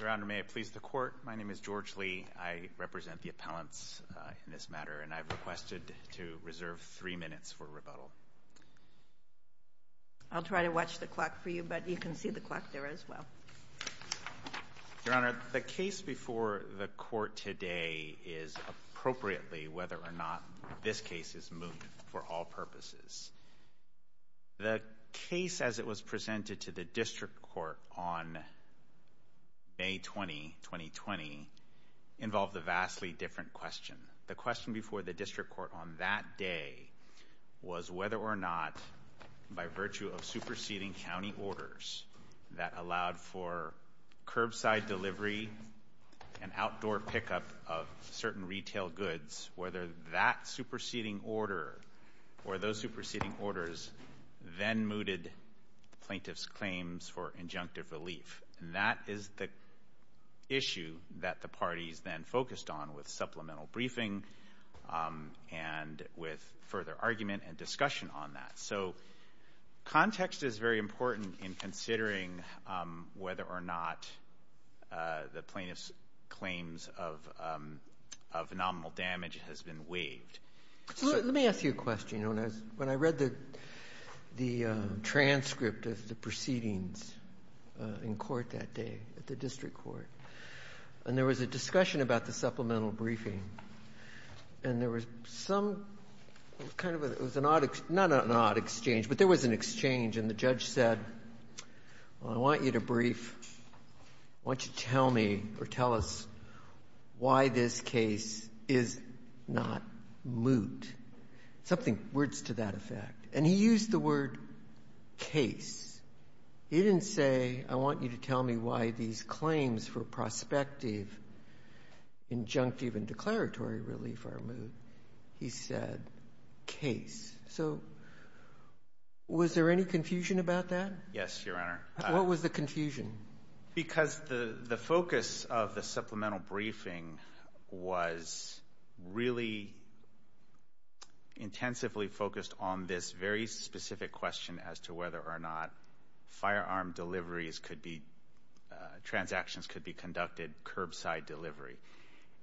Your Honor, may I please the Court? My name is George Lee. I represent the appellants in this matter, and I've requested to reserve three minutes for rebuttal. I'll try to watch the clock for you, but you can see the clock there as well. Your Honor, the case before the Court today is appropriately, whether or not this case is moved for all purposes. The case as it was presented to the District Court on May 20, 2020, involved a vastly different question. The question before the District Court on that day was whether or not, by virtue of superseding County orders that allowed for or those superseding orders then mooted plaintiff's claims for injunctive relief. That is the issue that the parties then focused on with supplemental briefing and with further argument and discussion on that. So context is very important in considering whether or not the plaintiff's claims of nominal damage has been waived. Let me ask you a question, Your Honor. When I read the transcript of the proceedings in court that day at the District Court, and there was a discussion about the supplemental briefing, and there was some kind of a — it was an odd — not an odd exchange, but there was an exchange, and the judge said, well, I want you to brief, I want you to tell me, or tell us, why this case is not moot. Something — words to that effect. And he used the word case. He didn't say, I want you to tell me why these claims for prospective, injunctive, and declaratory relief are moot. He said case. So was there any confusion about that? Yes, Your Honor. What was the confusion? Because the focus of the supplemental briefing was really intensively focused on this very specific question as to whether or not firearm deliveries could be — transactions could be conducted curbside delivery.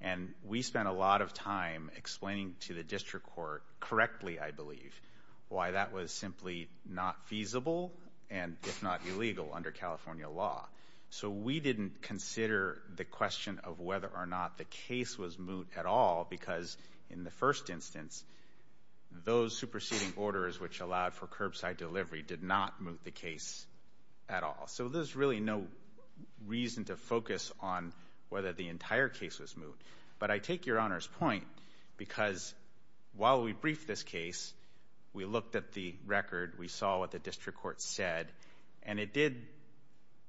And we spent a lot of time explaining to the District Court — correctly, I believe — why that was simply not feasible and, if not illegal, under California law. So we didn't consider the question of whether or not the case was moot at all, because in the first instance, those superseding orders which allowed for curbside delivery did not moot the case at all. So there's really no reason to focus on whether the entire case was moot. But I take Your Honor's point because while we briefed this case, we looked at the record, we saw what the District Court said, and it did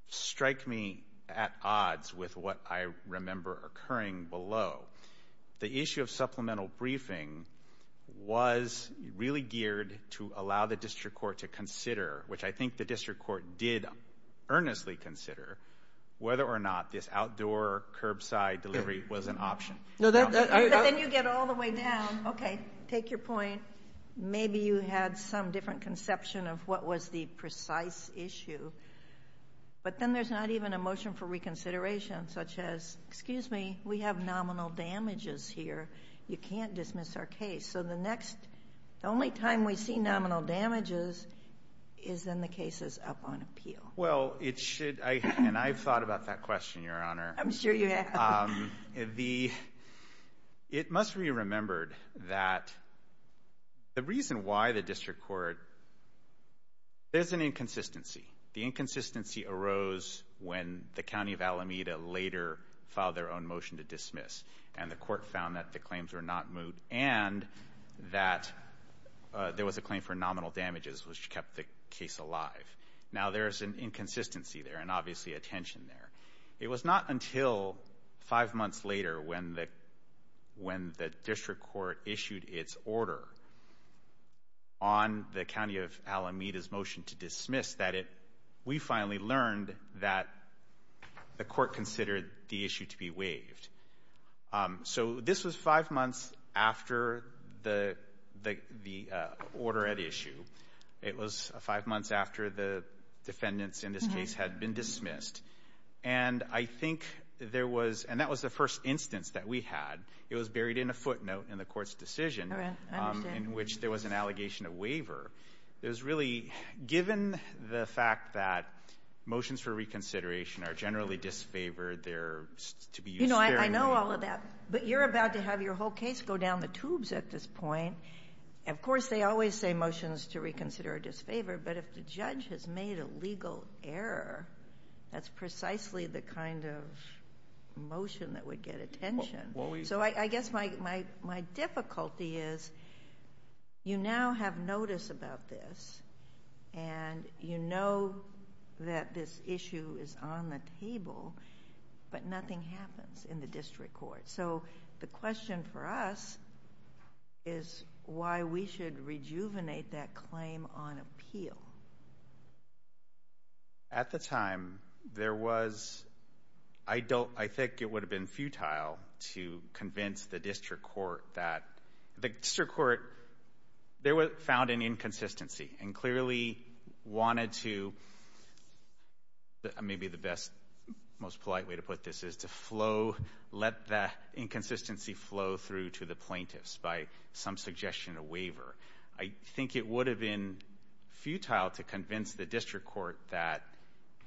strike me at odds with what I remember occurring below. The issue of supplemental briefing was really geared to allow the District Court to consider — which I think the District Court did earnestly consider — whether or not this outdoor curbside delivery was an option. But then you get all the way down. Okay, take your point. Maybe you had some different conception of what was the precise issue. But then there's not even a motion for reconsideration, such as, excuse me, we have nominal damages here. You can't dismiss our case. So the next — the only time we see nominal damages is when the case is up on appeal. Well, it should — and I've thought about that question, Your Honor. I'm sure you have. The — it must be remembered that the reason why the District Court — there's an inconsistency. The inconsistency arose when the County of Alameda later filed their own motion to dismiss, and the court found that the claims were not moot and that there was a claim for nominal damages, which kept the case alive. Now, there's an inconsistency there and obviously a tension there. It was not until five months later when the — when the District Court issued its order on the County of Alameda's motion to dismiss that it — we finally learned that the court considered the issue to be waived. So this was five months after the — the order at issue. It was five months after the defendants in this case had been dismissed. And I think there was — and that was the first instance that we had. It was buried in a footnote in the court's decision in which there was an allegation of waiver. It was really — given the fact that motions for reconsideration are generally disfavored, they're to be used fairly — You know, I know all of that. But you're about to have your whole case go down the reconsider or disfavor. But if the judge has made a legal error, that's precisely the kind of motion that would get attention. So I guess my difficulty is you now have notice about this and you know that this issue is on the table, but nothing happens in the District Court. So the question for us is why we should rejuvenate that claim on appeal. At the time, there was — I don't — I think it would have been futile to convince the District Court that — the District Court — there was — found an inconsistency and clearly wanted to — maybe the best, most polite way to put this is to flow — let that inconsistency flow through to the plaintiffs by some suggestion of waiver. I think it would have been futile to convince the District Court that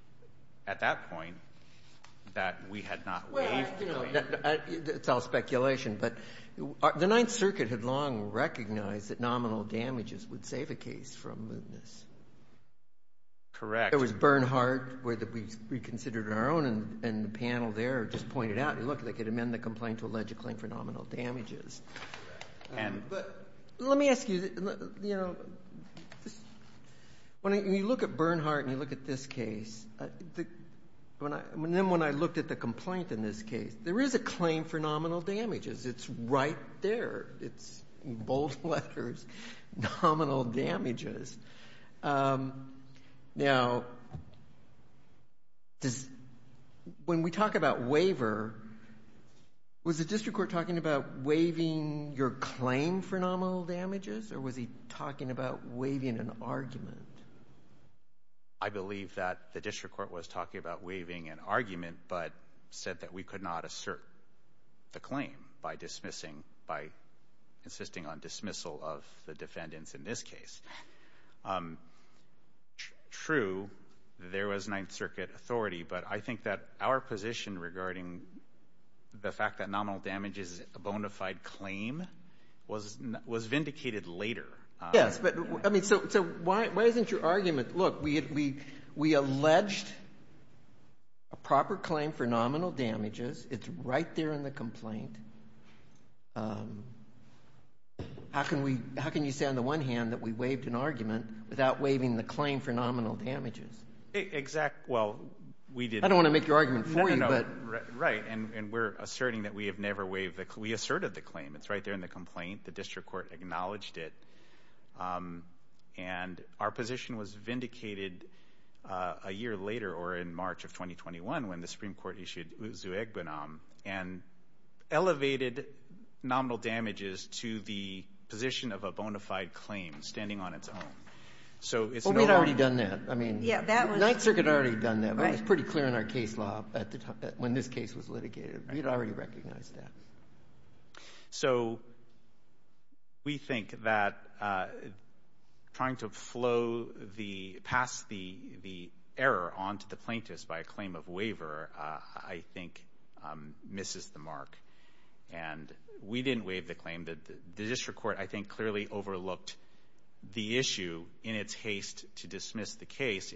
— at that point, that we had not waived the claim. It's all speculation, but the Ninth Circuit had long recognized that nominal damages would save a case from mootness. Correct. There was Bernhardt, where we considered it on our own, and the panel there just pointed out, look, they could amend the complaint to allege a claim for nominal damages. And — But let me ask you, you know, when you look at Bernhardt and you look at this case, then when I looked at the complaint in this case, there is a claim for nominal damages. It's right there. It's, in bold letters, nominal damages. Now, does — when we talk about waiver, was the District Court talking about waiving your claim for nominal damages, or was he talking about waiving an argument? I believe that the District Court was talking about waiving an argument, but said that we could not assert the claim by dismissing — by insisting on dismissal of the defendants in this case. True, there was Ninth Circuit authority, but I think that our position regarding the fact that nominal damage is a bona fide claim was vindicated later. Yes, but — I mean, so why isn't your argument, look, we alleged a proper claim for nominal damages. It's right there in the complaint. How can we — how can you say on the one hand that we waived an argument without waiving the claim for nominal damages? Exactly. Well, we did — I don't want to make your argument for you, but — Right, and we're asserting that we have never waived the — we asserted the claim. It's right there in the complaint. The District Court acknowledged it. And our position was vindicated a year later, or in March of 2021, when the Supreme Court issued Uzu-Egbenam and elevated nominal damages to the position of a bona fide claim standing on its own. So it's — Well, we had already done that. I mean — Yeah, that was — Ninth Circuit had already done that. Right. It was pretty clear in our case law at the time — when this case was litigated. We had already recognized that. So we think that trying to flow the — pass the error onto the plaintiffs by a claim of waiver, I think, misses the mark. And we didn't waive the claim. The District Court, I think, clearly overlooked the issue in its haste to dismiss the case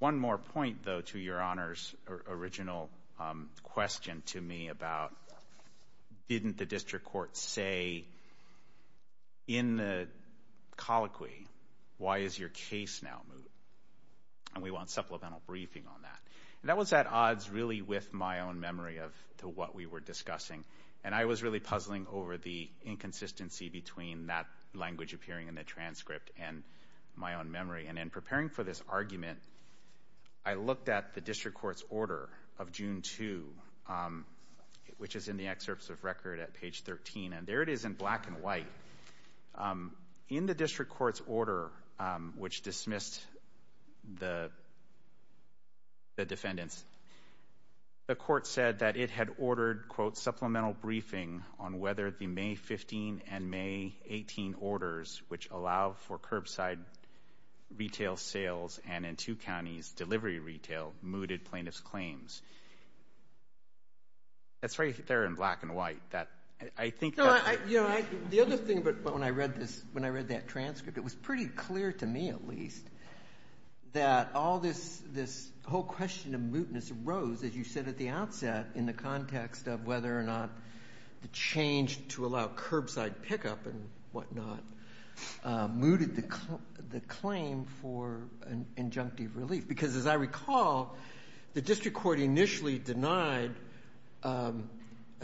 One more point, though, to Your Honor's original question to me about, didn't the District Court say in the colloquy, why is your case now moot? And we want supplemental briefing on that. That was at odds, really, with my own memory of — to what we were discussing. And I was really puzzling over the inconsistency between that language appearing in the transcript and my own memory. And in preparing for this argument, I looked at the District Court's order of June 2, which is in the excerpts of record at page 13. And there it is in black and white. In the District Court's order, which dismissed the defendants, the court said that it had curbside retail sales and in two counties, delivery retail, mooted plaintiff's claims. That's right there in black and white. That — I think — No, I — you know, I — the other thing, but when I read this — when I read that transcript, it was pretty clear to me, at least, that all this — this whole question of mootness arose, as you said at the outset, in the context of whether or not the change to allow curbside pickup and whatnot mooted the claim for an injunctive relief. Because as I recall, the District Court initially denied a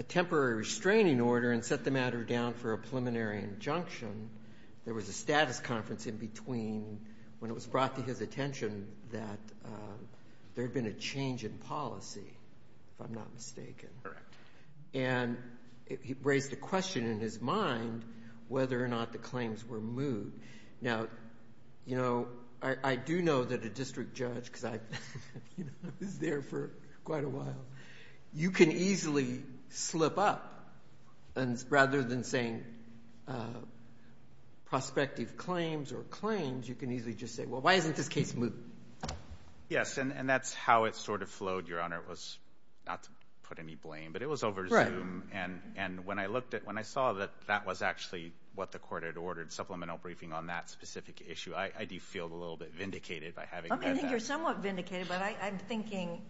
temporary restraining order and set the matter down for a preliminary injunction. There was a status conference in between when it was brought to his attention that there had been a change in policy, if I'm not mistaken. Correct. And it raised a question in his mind whether or not the claims were moot. Now, you know, I do know that a district judge — because I, you know, I was there for quite a while — you can easily slip up, and rather than saying prospective claims or claims, you can easily just say, well, why isn't this case moot? Yes, and that's how it sort of flowed, Your Honor. It was — not to put any blame, but it was over Zoom. Right. And when I looked at — when I saw that that was actually what the court had ordered, supplemental briefing on that specific issue, I do feel a little bit vindicated by having read that. I think you're somewhat vindicated, but I'm thinking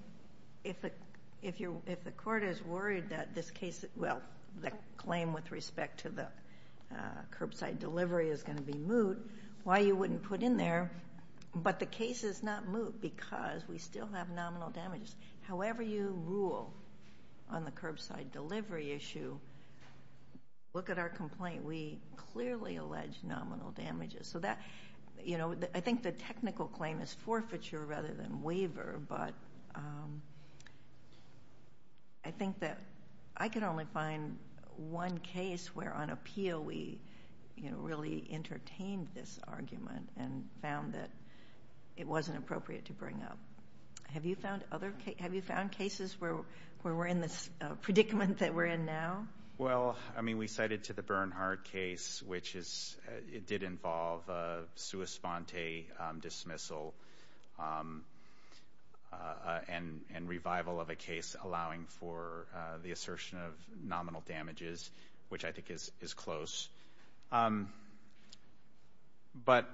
if the court is worried that this case — well, the claim with respect to the curbside delivery is going to be moot, why you wouldn't put in there, but the case is not moot because we still have nominal damages. However you rule on the curbside delivery issue, look at our complaint. We clearly allege nominal damages. So that, you know, I think the technical claim is forfeiture rather than waiver, but I think that I could only find one case where on appeal we, you know, really entertained this argument and found that it wasn't appropriate to bring up. Have you found other — have you found cases where we're in this predicament that we're in now? Well, I mean, we cited to the Bernhardt case, which is — it did involve a sua sponte dismissal and revival of a case allowing for the assertion of nominal damages, which I think is close. But,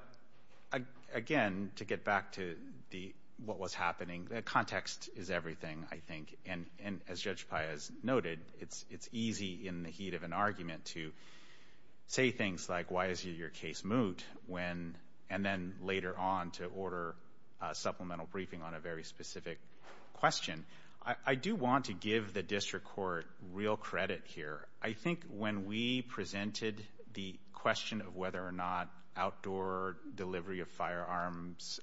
again, to get back to the — what was happening, the context is everything, I think. And as Judge Pai has noted, it's easy in the heat of an argument to say things like why is your case moot when — and then later on to order a supplemental briefing on a very specific question. I do want to give the district court real credit here. I think when we presented the question of whether or not outdoor delivery of firearms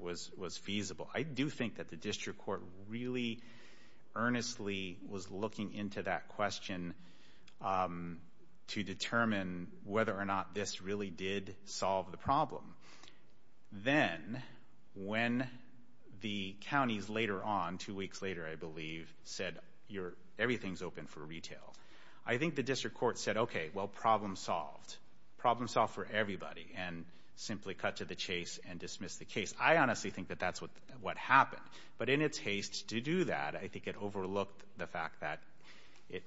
was feasible, I do think that the district court really earnestly was looking into that question to determine whether or not this really did solve the problem. Then when the counties later on, two weeks later, I believe, said everything's open for retail, I think the district court said, okay, well, problem solved. Problem solved for everybody and simply cut to the chase and dismissed the case. I honestly think that that's what happened. But in its haste to do that, I think it overlooked the fact that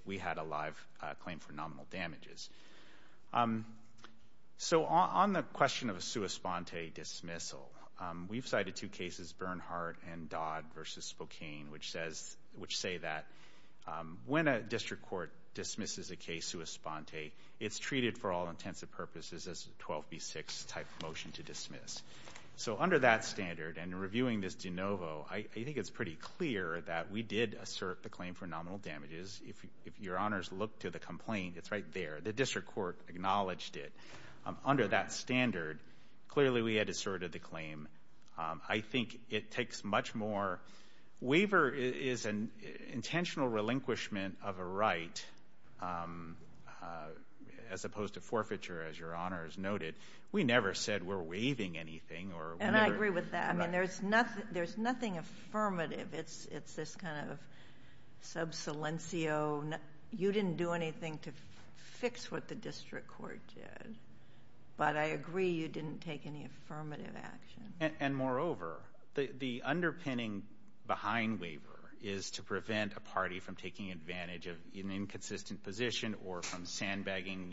we had a live claim for nominal damages. So on the question of a sua sponte dismissal, we've cited two cases, Bernhardt and Dodd Spokane, which say that when a district court dismisses a case sua sponte, it's treated for all intents and purposes as a 12B6 type of motion to dismiss. So under that standard and reviewing this de novo, I think it's pretty clear that we did assert the claim for nominal damages. If your honors look to the complaint, it's right there. The district court acknowledged it. Under that standard, clearly we had asserted the claim. I think it takes much more. Waiver is an intentional relinquishment of a right as opposed to forfeiture, as your honors noted. We never said we're waiving anything. And I agree with that. I mean, there's nothing affirmative. It's this kind of sub silencio. You didn't do anything to fix what the district court did. But I agree you didn't take any affirmative action. And moreover, the underpinning behind waiver is to prevent a party from taking advantage of an inconsistent position or from sandbagging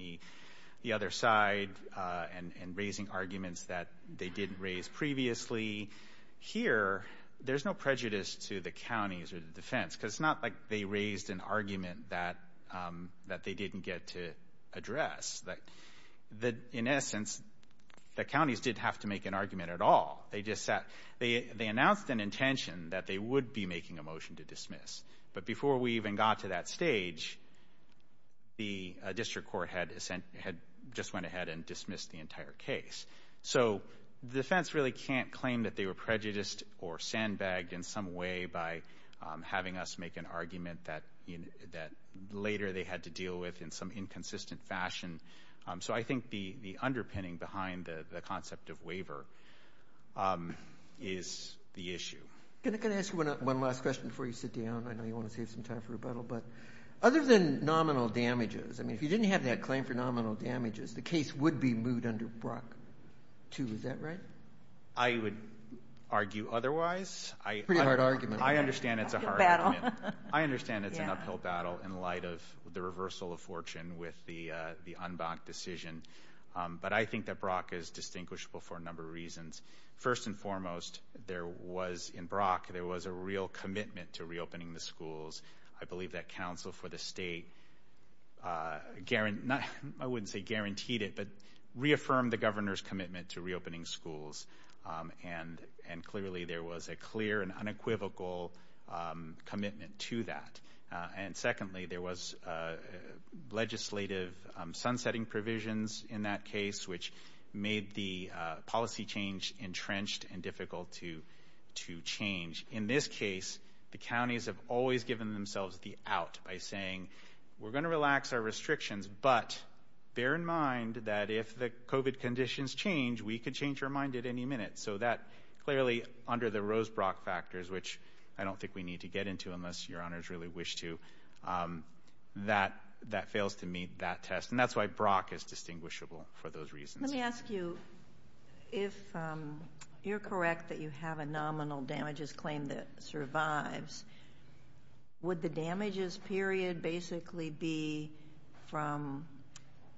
the other side and raising arguments that they didn't raise previously. Here, there's no prejudice to the counties or the defense, because it's not like they raised an argument that they didn't get to address. The, in essence, the counties didn't have to make an argument at all. They just sat. They announced an intention that they would be making a motion to dismiss. But before we even got to that stage, the district court had just went ahead and dismissed the entire case. So the defense really can't claim that they were prejudiced or sandbagged in some way by having us make an argument that later they had to deal with in some inconsistent fashion. So I think the underpinning behind the concept of waiver is the issue. Can I ask you one last question before you sit down? I know you want to save some time for rebuttal. But other than nominal damages, I mean, if you didn't have that claim for nominal damages, the case would be moved under Brock 2. Is that right? I would argue otherwise. Pretty hard argument. I understand it's a hard argument. I understand it's an uphill battle in light of the reversal of fortune with the UNBOC decision. But I think that Brock is distinguishable for a number of reasons. First and foremost, there was, in Brock, there was a real commitment to reopening the schools. I believe that counsel for the state guaranteed, I wouldn't say guaranteed it, but reaffirmed the governor's commitment to reopening schools. And and clearly there was a clear and unequivocal commitment to that. And secondly, there was legislative sunsetting provisions in that case, which made the policy change entrenched and difficult to to change. In this case, the counties have always given themselves the out by saying we're going to relax our restrictions. But bear in mind that if the COVID conditions change, we could change our mind at any minute. So that clearly under the Rose Brock factors, which I don't think we need to get into unless your honors really wish to, that that fails to meet that test. And that's why Brock is distinguishable for those reasons. Let me ask you if you're correct that you have a nominal damages claim that survives, would the damages period basically be from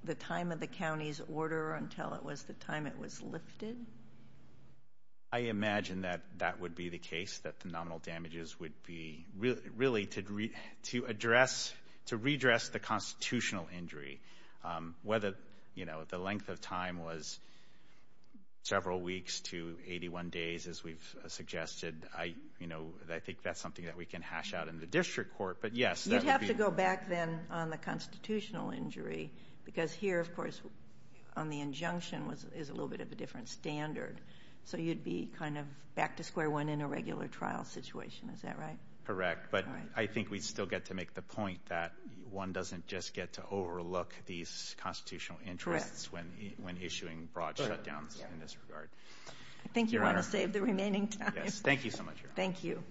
the time of the county's order until it was the time it was lifted? I imagine that that would be the case, that the nominal damages would be really really to to address to redress the constitutional injury, whether, you know, the length of time was several weeks to 81 days, as we've suggested. I, you know, I think that's something that we can hash out in the district court. But yes, you'd have to go back then on the constitutional injury, because here, of course, on the injunction was is a little bit of a different standard. So you'd be kind of back to square one in a regular trial situation. Is that right? Correct. But I think we still get to make the point that one doesn't just get to overlook these constitutional interests when when issuing broad shutdowns in this regard. I think you want to save the remaining time. Thank you so much. Thank you.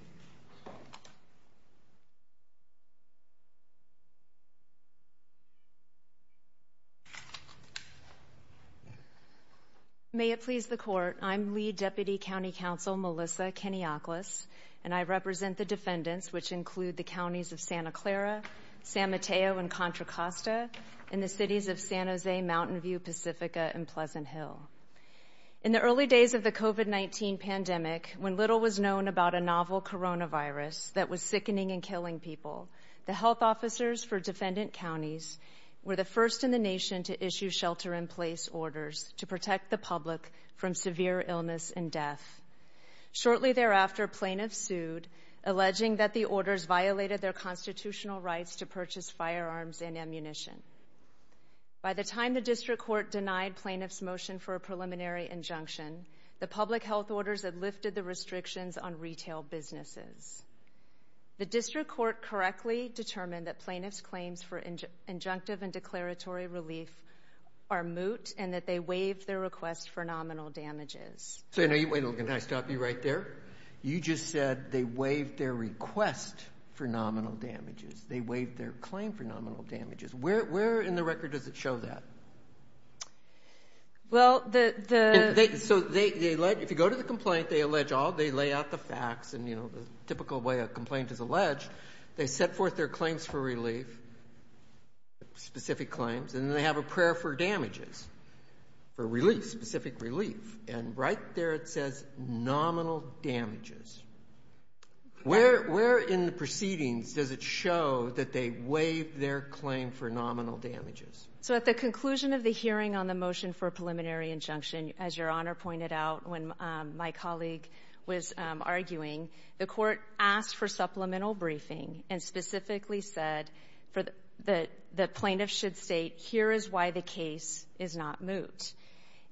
May it please the court. I'm lead Deputy County Counsel Melissa Kenioklis, and I represent the defendants, which include the counties of Santa Clara, San Mateo and Contra Costa, and the cities of San Jose, Mountain View, Pacifica and Pleasant Hill. In the early days of the COVID-19 pandemic, when little was known about a novel coronavirus that was sickening and killing people, the health officers for defendant counties were the first in the nation to issue shelter in place orders to protect the public from severe illness and death. Shortly thereafter, plaintiffs sued, alleging that the orders violated their constitutional rights to purchase firearms and ammunition. By the time the district court denied plaintiffs motion for a preliminary injunction, the public health orders had lifted the restrictions on retail businesses. The district court correctly determined that plaintiffs' claims for injunctive and declaratory relief are moot and that they waived their request for nominal damages. So now you wait a little. Can I stop you right there? You just said they waived their request for nominal damages. They waived their claim for nominal damages. Where in the record does it show that? Well, the... So if you go to the complaint, they lay out the facts, and the typical way a complaint is alleged. They set forth their claims for relief, specific claims, and then they have a prayer for damages, for relief, specific relief. And right there it says nominal damages. Where in the proceedings does it show that they waived their claim for nominal damages? So at the conclusion of the hearing on the motion for a preliminary injunction, as Your Honor pointed out when my colleague was arguing, the Court asked for supplemental briefing and specifically said that the plaintiff should state, here is why the case is not moot,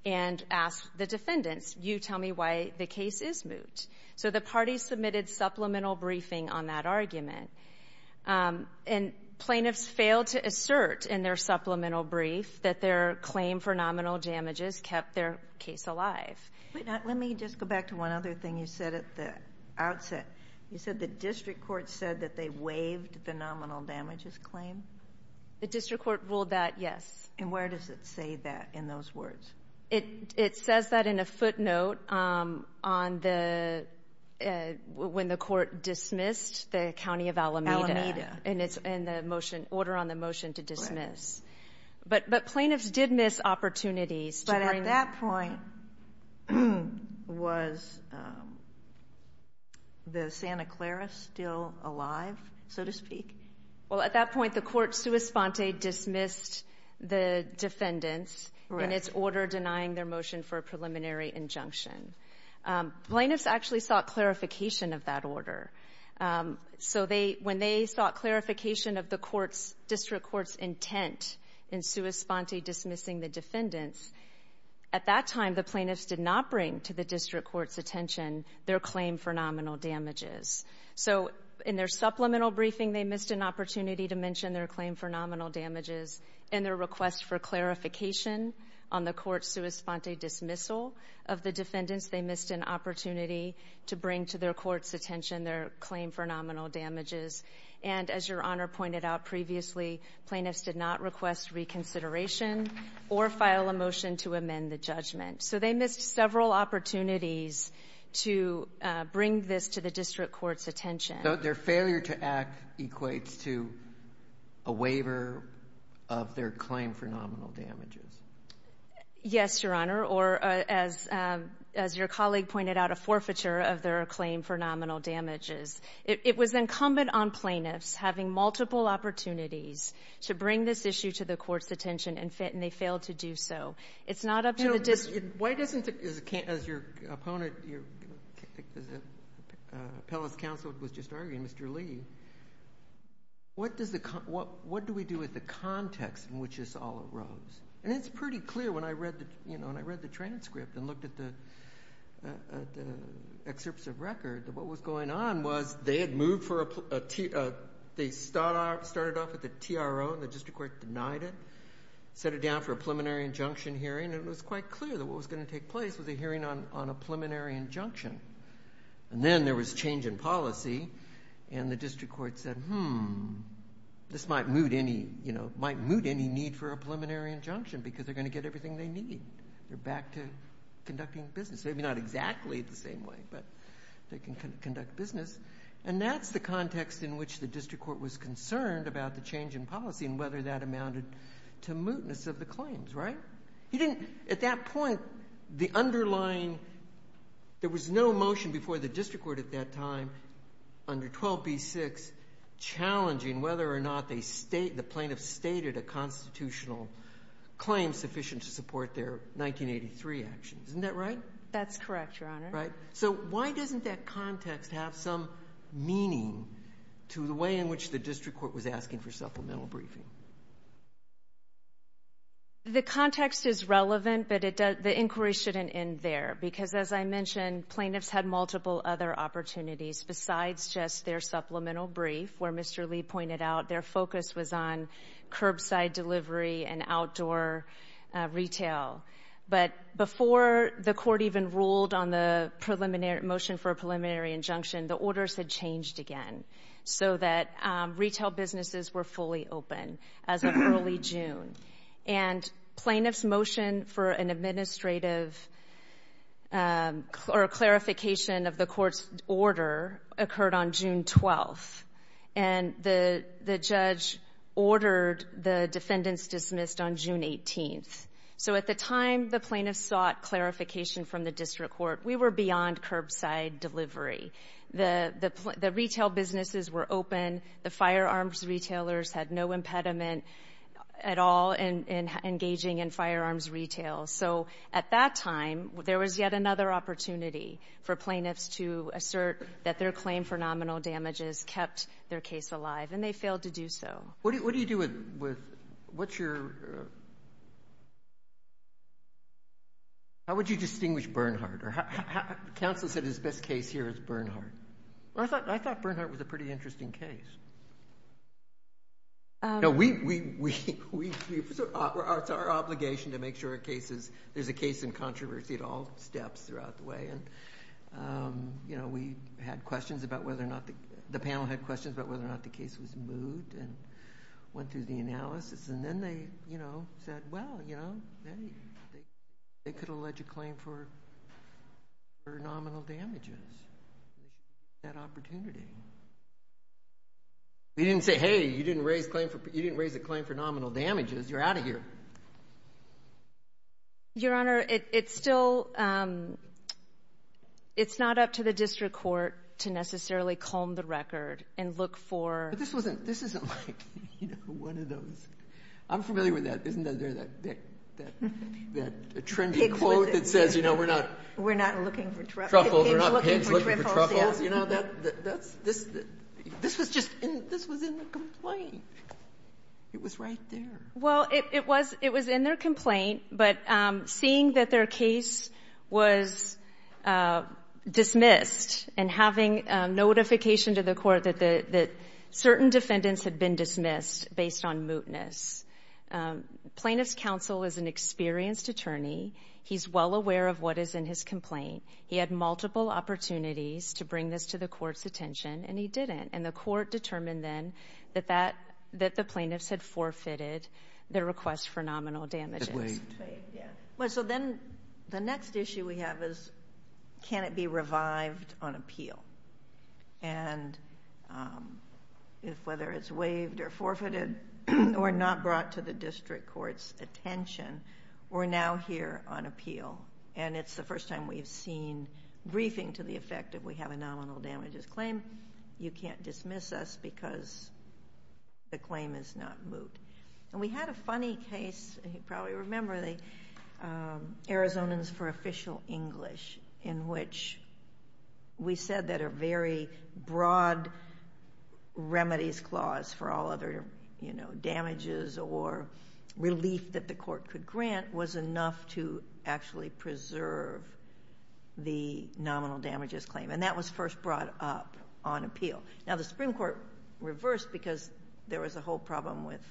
and asked the defendants, you tell me why the case is moot. So the parties submitted supplemental briefing on that argument, and plaintiffs failed to assert in their supplemental brief that their claim for nominal damages kept their case alive. Let me just go back to one other thing you said at the outset. You said the district court said that they waived the nominal damages claim? The district court ruled that, yes. And where does it say that in those words? It says that in a footnote on the, when the court dismissed the county of Alameda. Alameda. And it's in the motion, order on the motion to dismiss. But plaintiffs did miss opportunities. But at that point, was the Santa Clara still alive, so to speak? Well, at that point, the court sua sponte dismissed the defendants in its order denying their motion for a preliminary injunction. Plaintiffs actually sought clarification of that order. So when they sought clarification of the district court's intent in sua sponte dismissing the defendants, at that time, the plaintiffs did not bring to the district court's attention their claim for nominal damages. So in their supplemental briefing, they missed an opportunity to mention their claim for nominal damages. In their request for clarification on the court sua sponte dismissal of the defendants, they missed an opportunity to bring to their court's attention their claim for nominal damages. And as Your Honor pointed out previously, plaintiffs did not request reconsideration or file a motion to amend the judgment. So they missed several opportunities to bring this to the district court's attention. So their failure to act equates to a waiver of their claim for nominal damages? Yes, Your Honor. Or as your colleague pointed out, a forfeiture of their claim for nominal damages. It was incumbent on plaintiffs having multiple opportunities to bring this issue to the court's attention and they failed to do so. It's not up to the district. Why doesn't, as your opponent, as appellate counsel was just arguing, Mr. Lee, what do we do with the context in which this all arose? And it's pretty clear when I read the transcript and looked at the excerpts of record that what was going on was they had moved for a, they started off with a TRO and the district court denied it, set it down for a preliminary injunction hearing and it was quite clear that what was going to take place was a hearing on a preliminary injunction. And then there was change in policy and the district court said, hmm, this might moot any need for a preliminary injunction because they're going to get everything they need. They're back to conducting business. Maybe not exactly the same way, but they can conduct business. And that's the context in which the district court was concerned about the change in policy and whether that amounted to mootness of the claims, right? He didn't, at that point, the underlying, there was no motion before the district court at that time under 12b-6 challenging whether or not the plaintiff stated a constitutional claim sufficient to support their 1983 actions. Isn't that right? That's correct, your honor. Right. So why doesn't that context have some meaning to the way in which the district court was briefing? The context is relevant, but the inquiry shouldn't end there because as I mentioned, plaintiffs had multiple other opportunities besides just their supplemental brief where Mr. Lee pointed out their focus was on curbside delivery and outdoor retail. But before the court even ruled on the motion for a preliminary injunction, the orders had fully opened as of early June and plaintiff's motion for an administrative or clarification of the court's order occurred on June 12th. And the judge ordered the defendants dismissed on June 18th. So at the time, the plaintiff sought clarification from the district court. We were beyond curbside delivery. The retail businesses were open. The firearms retailers had no impediment at all in engaging in firearms retail. So at that time, there was yet another opportunity for plaintiffs to assert that their claim for nominal damages kept their case alive, and they failed to do so. What do you do with what's your How would you distinguish Bernhardt? Counsel said his best case here is Bernhardt. I thought Bernhardt was a pretty interesting case. It's our obligation to make sure there's a case in controversy at all steps throughout the way. And we had questions about whether or not the panel had questions about whether or not And then they, you know, said, well, you know, they could allege a claim for nominal damages. That opportunity. We didn't say, hey, you didn't raise a claim for nominal damages. You're out of here. Your Honor, it's still It's not up to the district court to necessarily calm the record and look for This isn't like one of those. I'm familiar with that. Isn't there that trendy quote that says, you know, we're not looking for truffles. You know, this was just in the complaint. It was right there. Well, it was in their complaint, but seeing that their case was dismissed and having notification to the court that certain defendants had been dismissed based on mootness. Plaintiff's counsel is an experienced attorney. He's well aware of what is in his complaint. He had multiple opportunities to bring this to the court's attention, and he didn't. And the court determined then that the plaintiffs had forfeited their request for nominal damages. Yeah, well, so then the next issue we have is, can it be revived on appeal? And if whether it's waived or forfeited or not brought to the district court's attention, we're now here on appeal. And it's the first time we've seen briefing to the effect that we have a nominal damages claim. You can't dismiss us because the claim is not moot. And we had a funny case, you probably remember, the Arizonans for Official English, in which we said that a very broad remedies clause for all other, you know, damages or relief that the court could grant was enough to actually preserve the nominal damages claim. And that was first brought up on appeal. Now, the Supreme Court reversed because there was a whole problem with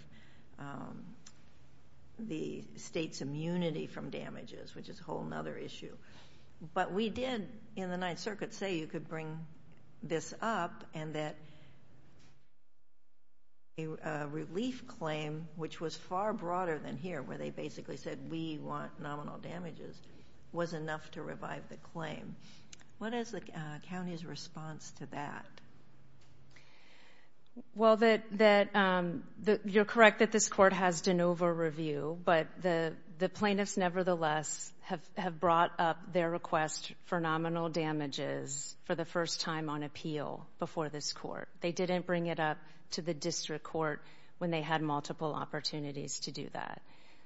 the state's immunity from damages, which is a whole other issue. But we did, in the Ninth Circuit, say you could bring this up and that a relief claim, which was far broader than here, where they basically said, we want nominal damages, was enough to revive the claim. What is the county's response to that? Well, you're correct that this court has de novo review, but the plaintiffs, nevertheless, have brought up their request for nominal damages for the first time on appeal before this court. They didn't bring it up to the district court when they had multiple opportunities to do that.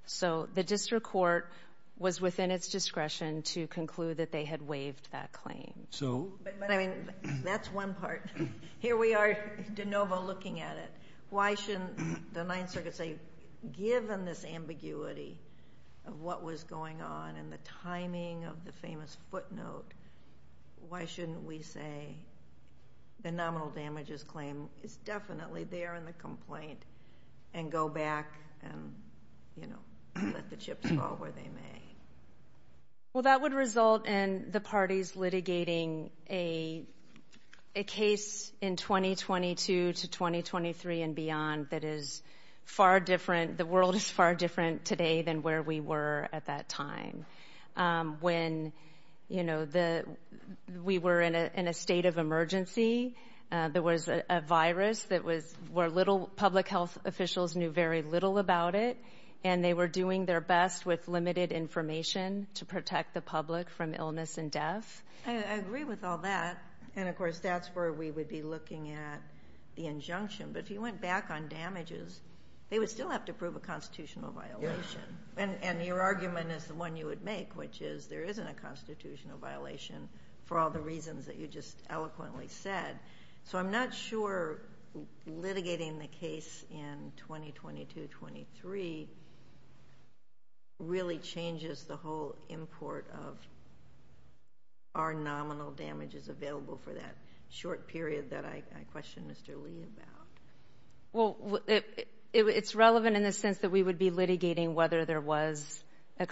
So the district court was within its discretion to conclude that they had waived that claim. But I mean, that's one part. Here we are de novo looking at it. Why shouldn't the Ninth Circuit say, given this ambiguity of what was going on and the timing of the famous footnote, why shouldn't we say the nominal damages claim is definitely there in the complaint and go back and, you know, let the chips fall where they may? Well, that would result in the parties litigating a case in 2022 to 2023 and beyond that is far different. The world is far different today than where we were at that time when, you know, we were in a state of emergency. There was a virus that was where little public health officials knew very little about it, and they were doing their best with limited information to protect the public from illness and death. I agree with all that. And of course, that's where we would be looking at the injunction. But if you went back on damages, they would still have to prove a constitutional violation. And your argument is the one you would make, which is there isn't a constitutional violation for all the reasons that you just eloquently said. So I'm not sure litigating the case in 2022-23 really changes the whole import of our nominal damages available for that short period that I questioned Mr. Lee about. Well, it's relevant in the sense that we would be litigating whether there was a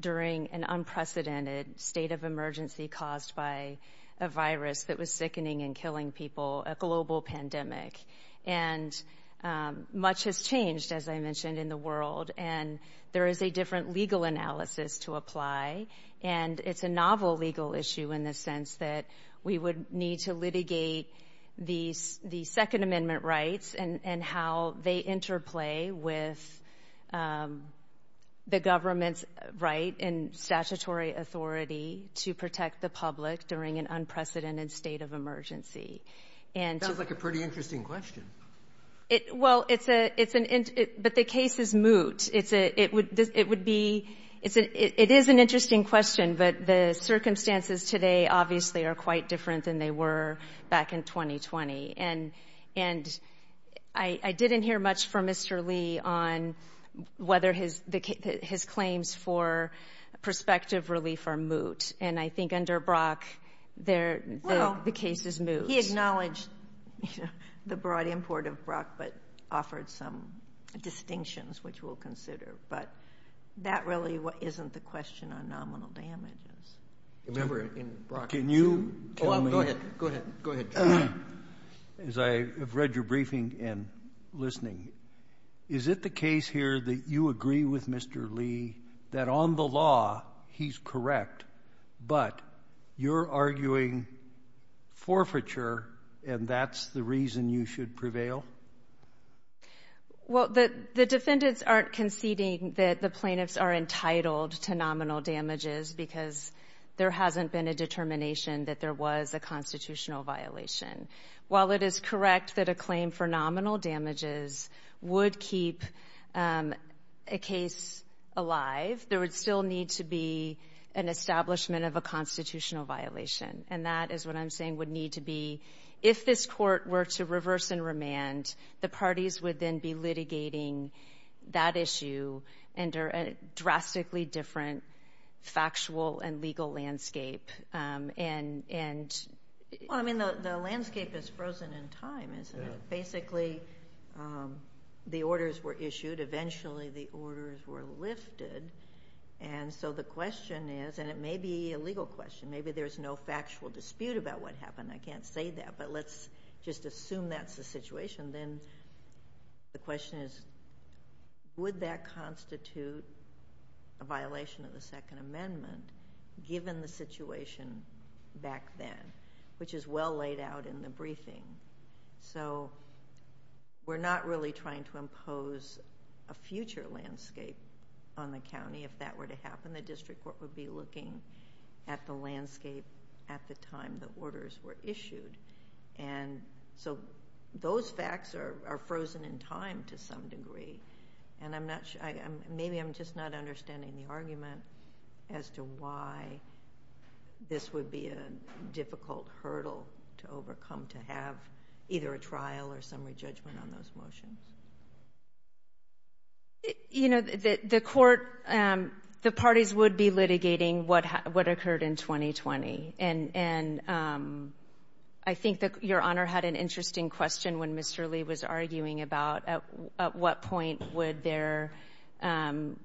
during an unprecedented state of emergency caused by a virus that was sickening and killing people, a global pandemic. And much has changed, as I mentioned, in the world. And there is a different legal analysis to apply. And it's a novel legal issue in the sense that we would need to litigate the Second Amendment, the government's right and statutory authority to protect the public during an unprecedented state of emergency. And so — That sounds like a pretty interesting question. Well, it's a — it's an — but the case is moot. It's a — it would — it would be — it's a — it is an interesting question, but the circumstances today obviously are quite different than they were back in 2020. And I didn't hear much from Mr. Lee on whether his — his claims for prospective relief are moot. And I think under Brock, they're — the case is moot. Well, he acknowledged the broad import of Brock, but offered some distinctions, which we'll consider. But that really isn't the question on nominal damages. Remember, in Brock — Can you — Oh, go ahead. Go ahead. Go ahead. As I have read your briefing and listening, is it the case here that you agree with Mr. Lee that, on the law, he's correct, but you're arguing forfeiture, and that's the reason you should prevail? Well, the defendants aren't conceding that the plaintiffs are entitled to nominal damages because there hasn't been a determination that there was a constitutional violation. While it is correct that a claim for nominal damages would keep a case alive, there would still need to be an establishment of a constitutional violation. And that is what I'm saying would need to be — if this court were to reverse and remand, the parties would then be litigating that issue under a drastically different factual and legal landscape. And — The landscape is frozen in time, isn't it? Basically, the orders were issued. Eventually, the orders were lifted. And so the question is — and it may be a legal question. Maybe there's no factual dispute about what happened. I can't say that. But let's just assume that's the situation. Then the question is, would that constitute a violation of the Second Amendment, given the situation back then, which is well laid out in the briefing? So we're not really trying to impose a future landscape on the county. If that were to happen, the district court would be looking at the landscape at the time the orders were issued. And so those facts are frozen in time to some degree. And I'm not — maybe I'm just not understanding the argument as to why this would be a difficult hurdle to overcome to have either a trial or summary judgment on those motions. You know, the court — the parties would be litigating what occurred in 2020. And I think that Your Honor had an interesting question when Mr. Lee was arguing about at what point would their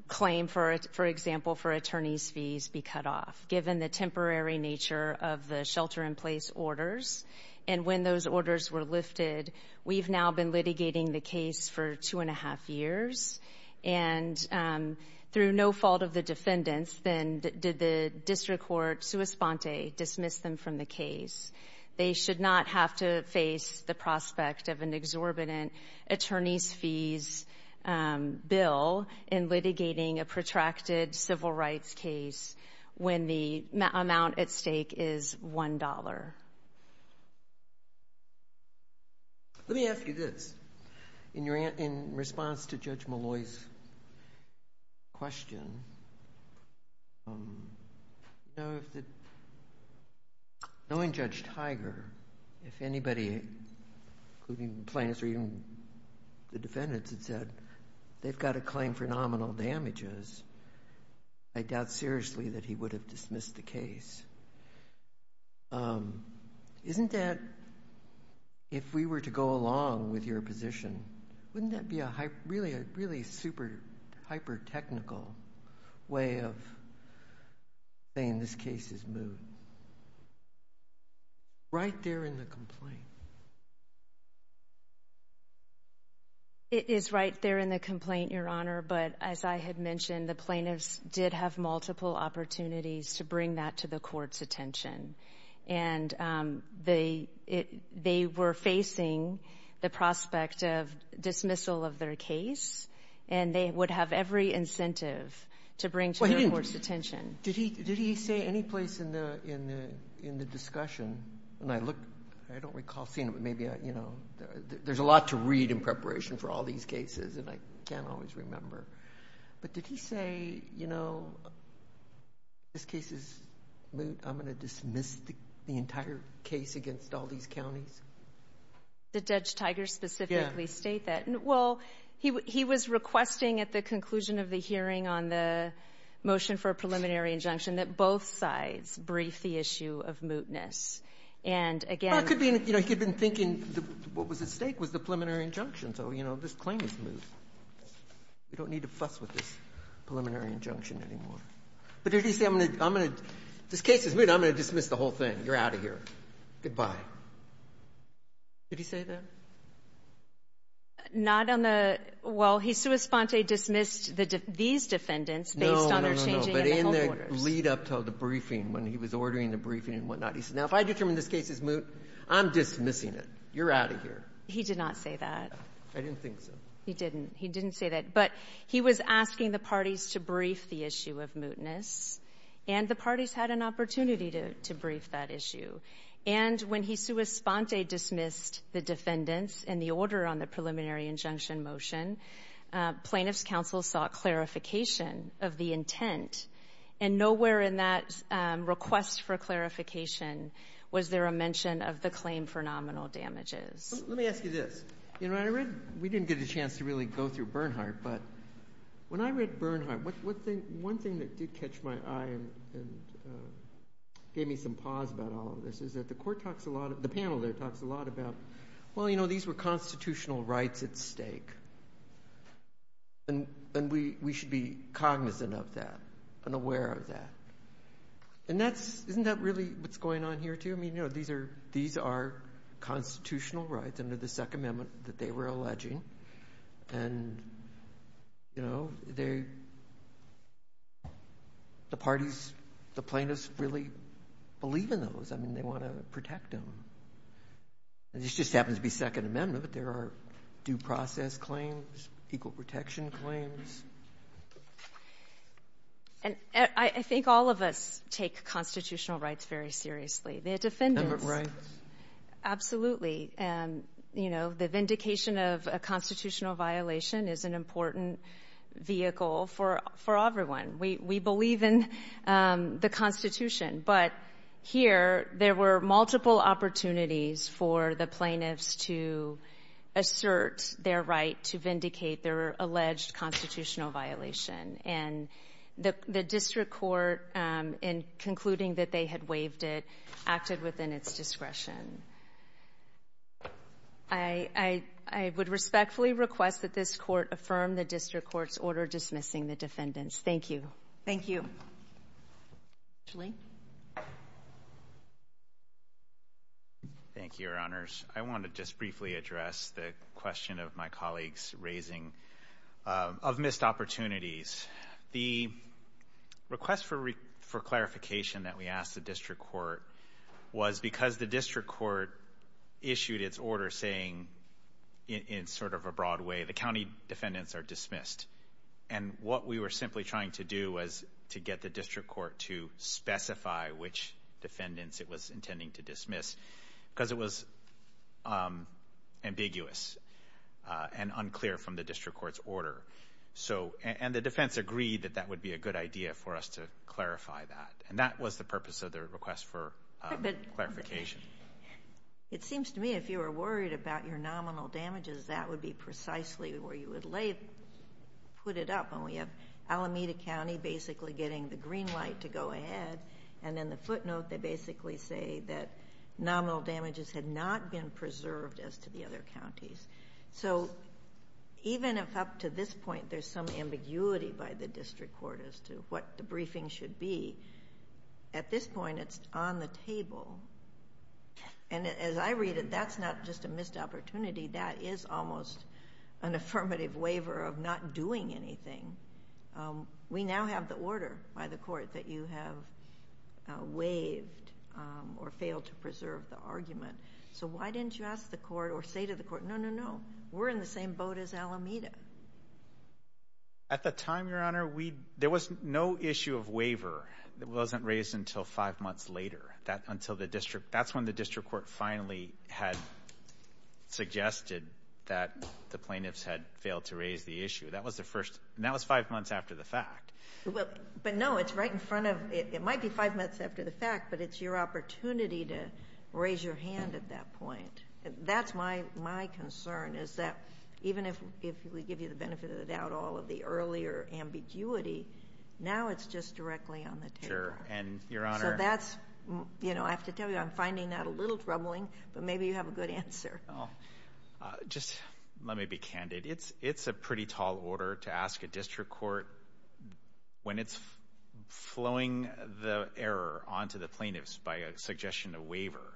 claim, for example, for attorney's fees be cut off, given the temporary nature of the shelter-in-place orders. And when those orders were lifted, we've now been litigating the case for two and a half years. And through no fault of the defendants, then did the district court, sua sponte, dismiss them from the case. They should not have to face the prospect of an exorbitant attorney's fees bill in litigating a protracted civil rights case when the amount at stake is $1. Let me ask you this. In response to Judge Malloy's question, you know, if the — knowing Judge Tiger, if anybody, including plaintiffs or even the defendants, had said they've got a claim for nominal damages, I doubt seriously that he would have dismissed the case. Isn't that — if we were to go along with your position, wouldn't that be a really super-hyper-technical way of saying this case is moved? Right there in the complaint. It is right there in the complaint, Your Honor. But as I had mentioned, the plaintiffs did have multiple opportunities to bring that to the court. And they were facing the prospect of dismissal of their case. And they would have every incentive to bring to their court's attention. Well, he didn't — did he say any place in the discussion — and I look — I don't recall seeing it, but maybe I — you know, there's a lot to read in preparation for all these cases, and I can't always remember. But did he say, you know, this case is moot, I'm going to dismiss the entire case against all these counties? Did Judge Tiger specifically state that? Well, he was requesting at the conclusion of the hearing on the motion for a preliminary injunction that both sides brief the issue of mootness. And again — Well, it could be — you know, he had been thinking what was at stake was the preliminary injunction. So, you know, this claim is moot. We don't need to fuss with this preliminary injunction anymore. But did he say, I'm going to — I'm going to — this case is moot, I'm going to dismiss the whole thing. You're out of here. Goodbye. Did he say that? Not on the — well, he sui sponte dismissed these defendants based on their changing — No, no, no, no, but in the lead-up to the briefing, when he was ordering the briefing and whatnot, he said, now, if I determine this case is moot, I'm dismissing it. You're out of here. He did not say that. I didn't think so. He didn't. He didn't say that. But he was asking the parties to brief the issue of mootness, and the parties had an opportunity to — to brief that issue. And when he sui sponte dismissed the defendants and the order on the preliminary injunction motion, plaintiffs' counsel sought clarification of the intent. And nowhere in that request for clarification was there a mention of the claim for nominal damages. Let me ask you this. You know, I read — we didn't get a chance to really go through Bernhardt, but when I read Bernhardt, one thing that did catch my eye and gave me some pause about all of this is that the court talks a lot — the panel there talks a lot about, well, you know, these were constitutional rights at stake, and we should be cognizant of that and aware of that. And that's — isn't that really what's going on here, too? I mean, you know, these are constitutional rights under the Second Amendment that they were alleging. And, you know, they — the parties, the plaintiffs really believe in those. I mean, they want to protect them. And this just happens to be Second Amendment, but there are due process claims, equal protection claims. And I think all of us take constitutional rights very seriously. The defendants — Government rights. Absolutely. You know, the vindication of a constitutional violation is an important vehicle for everyone. We believe in the Constitution. But here, there were multiple opportunities for the plaintiffs to assert their right to vindicate their alleged constitutional violation. And the district court, in concluding that they had waived it, acted within its discretion. I would respectfully request that this court affirm the district court's order dismissing the defendants. Thank you. Thank you. Thank you, Your Honors. I want to just briefly address the question of my colleagues raising of missed opportunities. The request for clarification that we asked the district court was because the district court issued its order saying, in sort of a broad way, the county defendants are dismissed. And what we were simply trying to do was to get the district court to specify which defendants it was intending to dismiss, because it was ambiguous and unclear from the district court's order. And the defense agreed that that would be a good idea for us to clarify that. And that was the purpose of the request for clarification. It seems to me, if you were worried about your nominal damages, that would be precisely where you would put it up. And we have Alameda County basically getting the green light to go ahead. And in the footnote, they basically say that nominal damages had not been preserved as to the other counties. So even if up to this point there's some ambiguity by the district court as to what the briefing should be, at this point it's on the table. And as I read it, that's not just a missed opportunity. That is almost an affirmative waiver of not doing anything. We now have the order by the court that you have waived or failed to preserve the argument. So why didn't you ask the court or say to the court, no, no, no, we're in the same boat as Alameda? At the time, Your Honor, there was no issue of waiver that wasn't raised until five months later. That's when the district court finally had suggested that the plaintiffs had failed to raise the issue. And that was five months after the fact. But no, it's right in front of, it might be five months after the fact, but it's your opportunity to raise your hand at that point. That's my concern, is that even if we give you the benefit of the doubt all of the earlier ambiguity, now it's just directly on the table. Sure. And, Your Honor. So that's, you know, I have to tell you, I'm finding that a little troubling, but maybe you have a good answer. Just let me be candid. It's a pretty tall order to ask a district court when it's flowing the error onto the plaintiffs by a suggestion of waiver.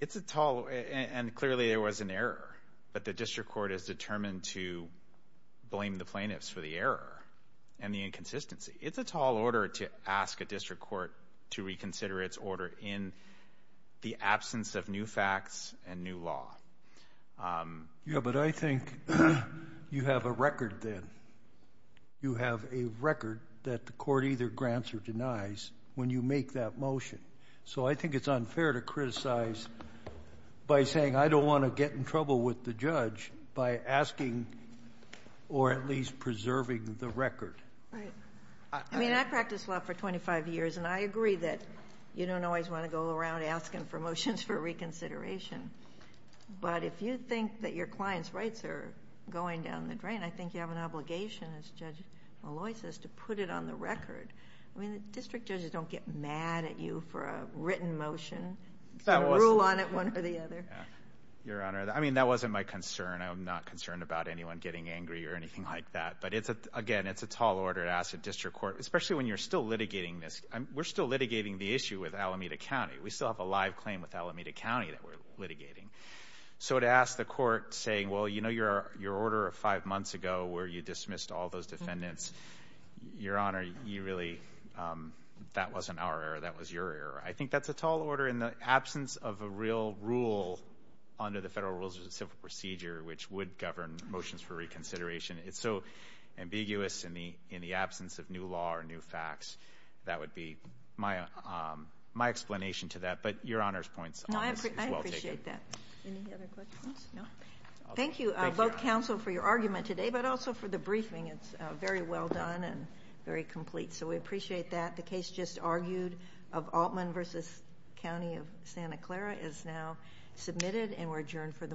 It's a tall, and clearly there was an error, but the district court is determined to blame the plaintiffs for the error and the inconsistency. It's a tall order to ask a district court to reconsider its order in the absence of new facts and new law. Yeah, but I think you have a record then. You have a record that the court either grants or denies when you make that motion. So I think it's unfair to criticize by saying, I don't want to get in trouble with the judge by asking or at least preserving the record. Right. I mean, I practiced law for 25 years, and I agree that you don't always want to go around asking for motions for reconsideration. But if you think that your client's rights are going down the drain, I think you have an obligation, as Judge Molloy says, to put it on the record. I mean, the district judges don't get mad at you for a written motion, rule on it one or the other. Your Honor, I mean, that wasn't my concern. I'm not concerned about anyone getting angry or anything like that. But again, it's a tall order to ask a district court, especially when you're still litigating this. We're still litigating the issue with Alameda County. We still have a live claim with Alameda County that we're litigating. So to ask the court, saying, well, you know your order of five months ago where you dismissed all those defendants, Your Honor, you really — that wasn't our error. That was your error. I think that's a tall order. In the absence of a real rule under the Federal Rules of Civil Procedure, which would govern motions for reconsideration, it's so ambiguous in the absence of new law or new facts. That would be my explanation to that. But Your Honor's point is well taken. No, I appreciate that. Any other questions? No? Thank you, both counsel, for your argument today, but also for the briefing. It's very well done and very complete. So we appreciate that. The case just argued of Altman v. County of Santa Clara is now submitted and we're adjourned for the morning.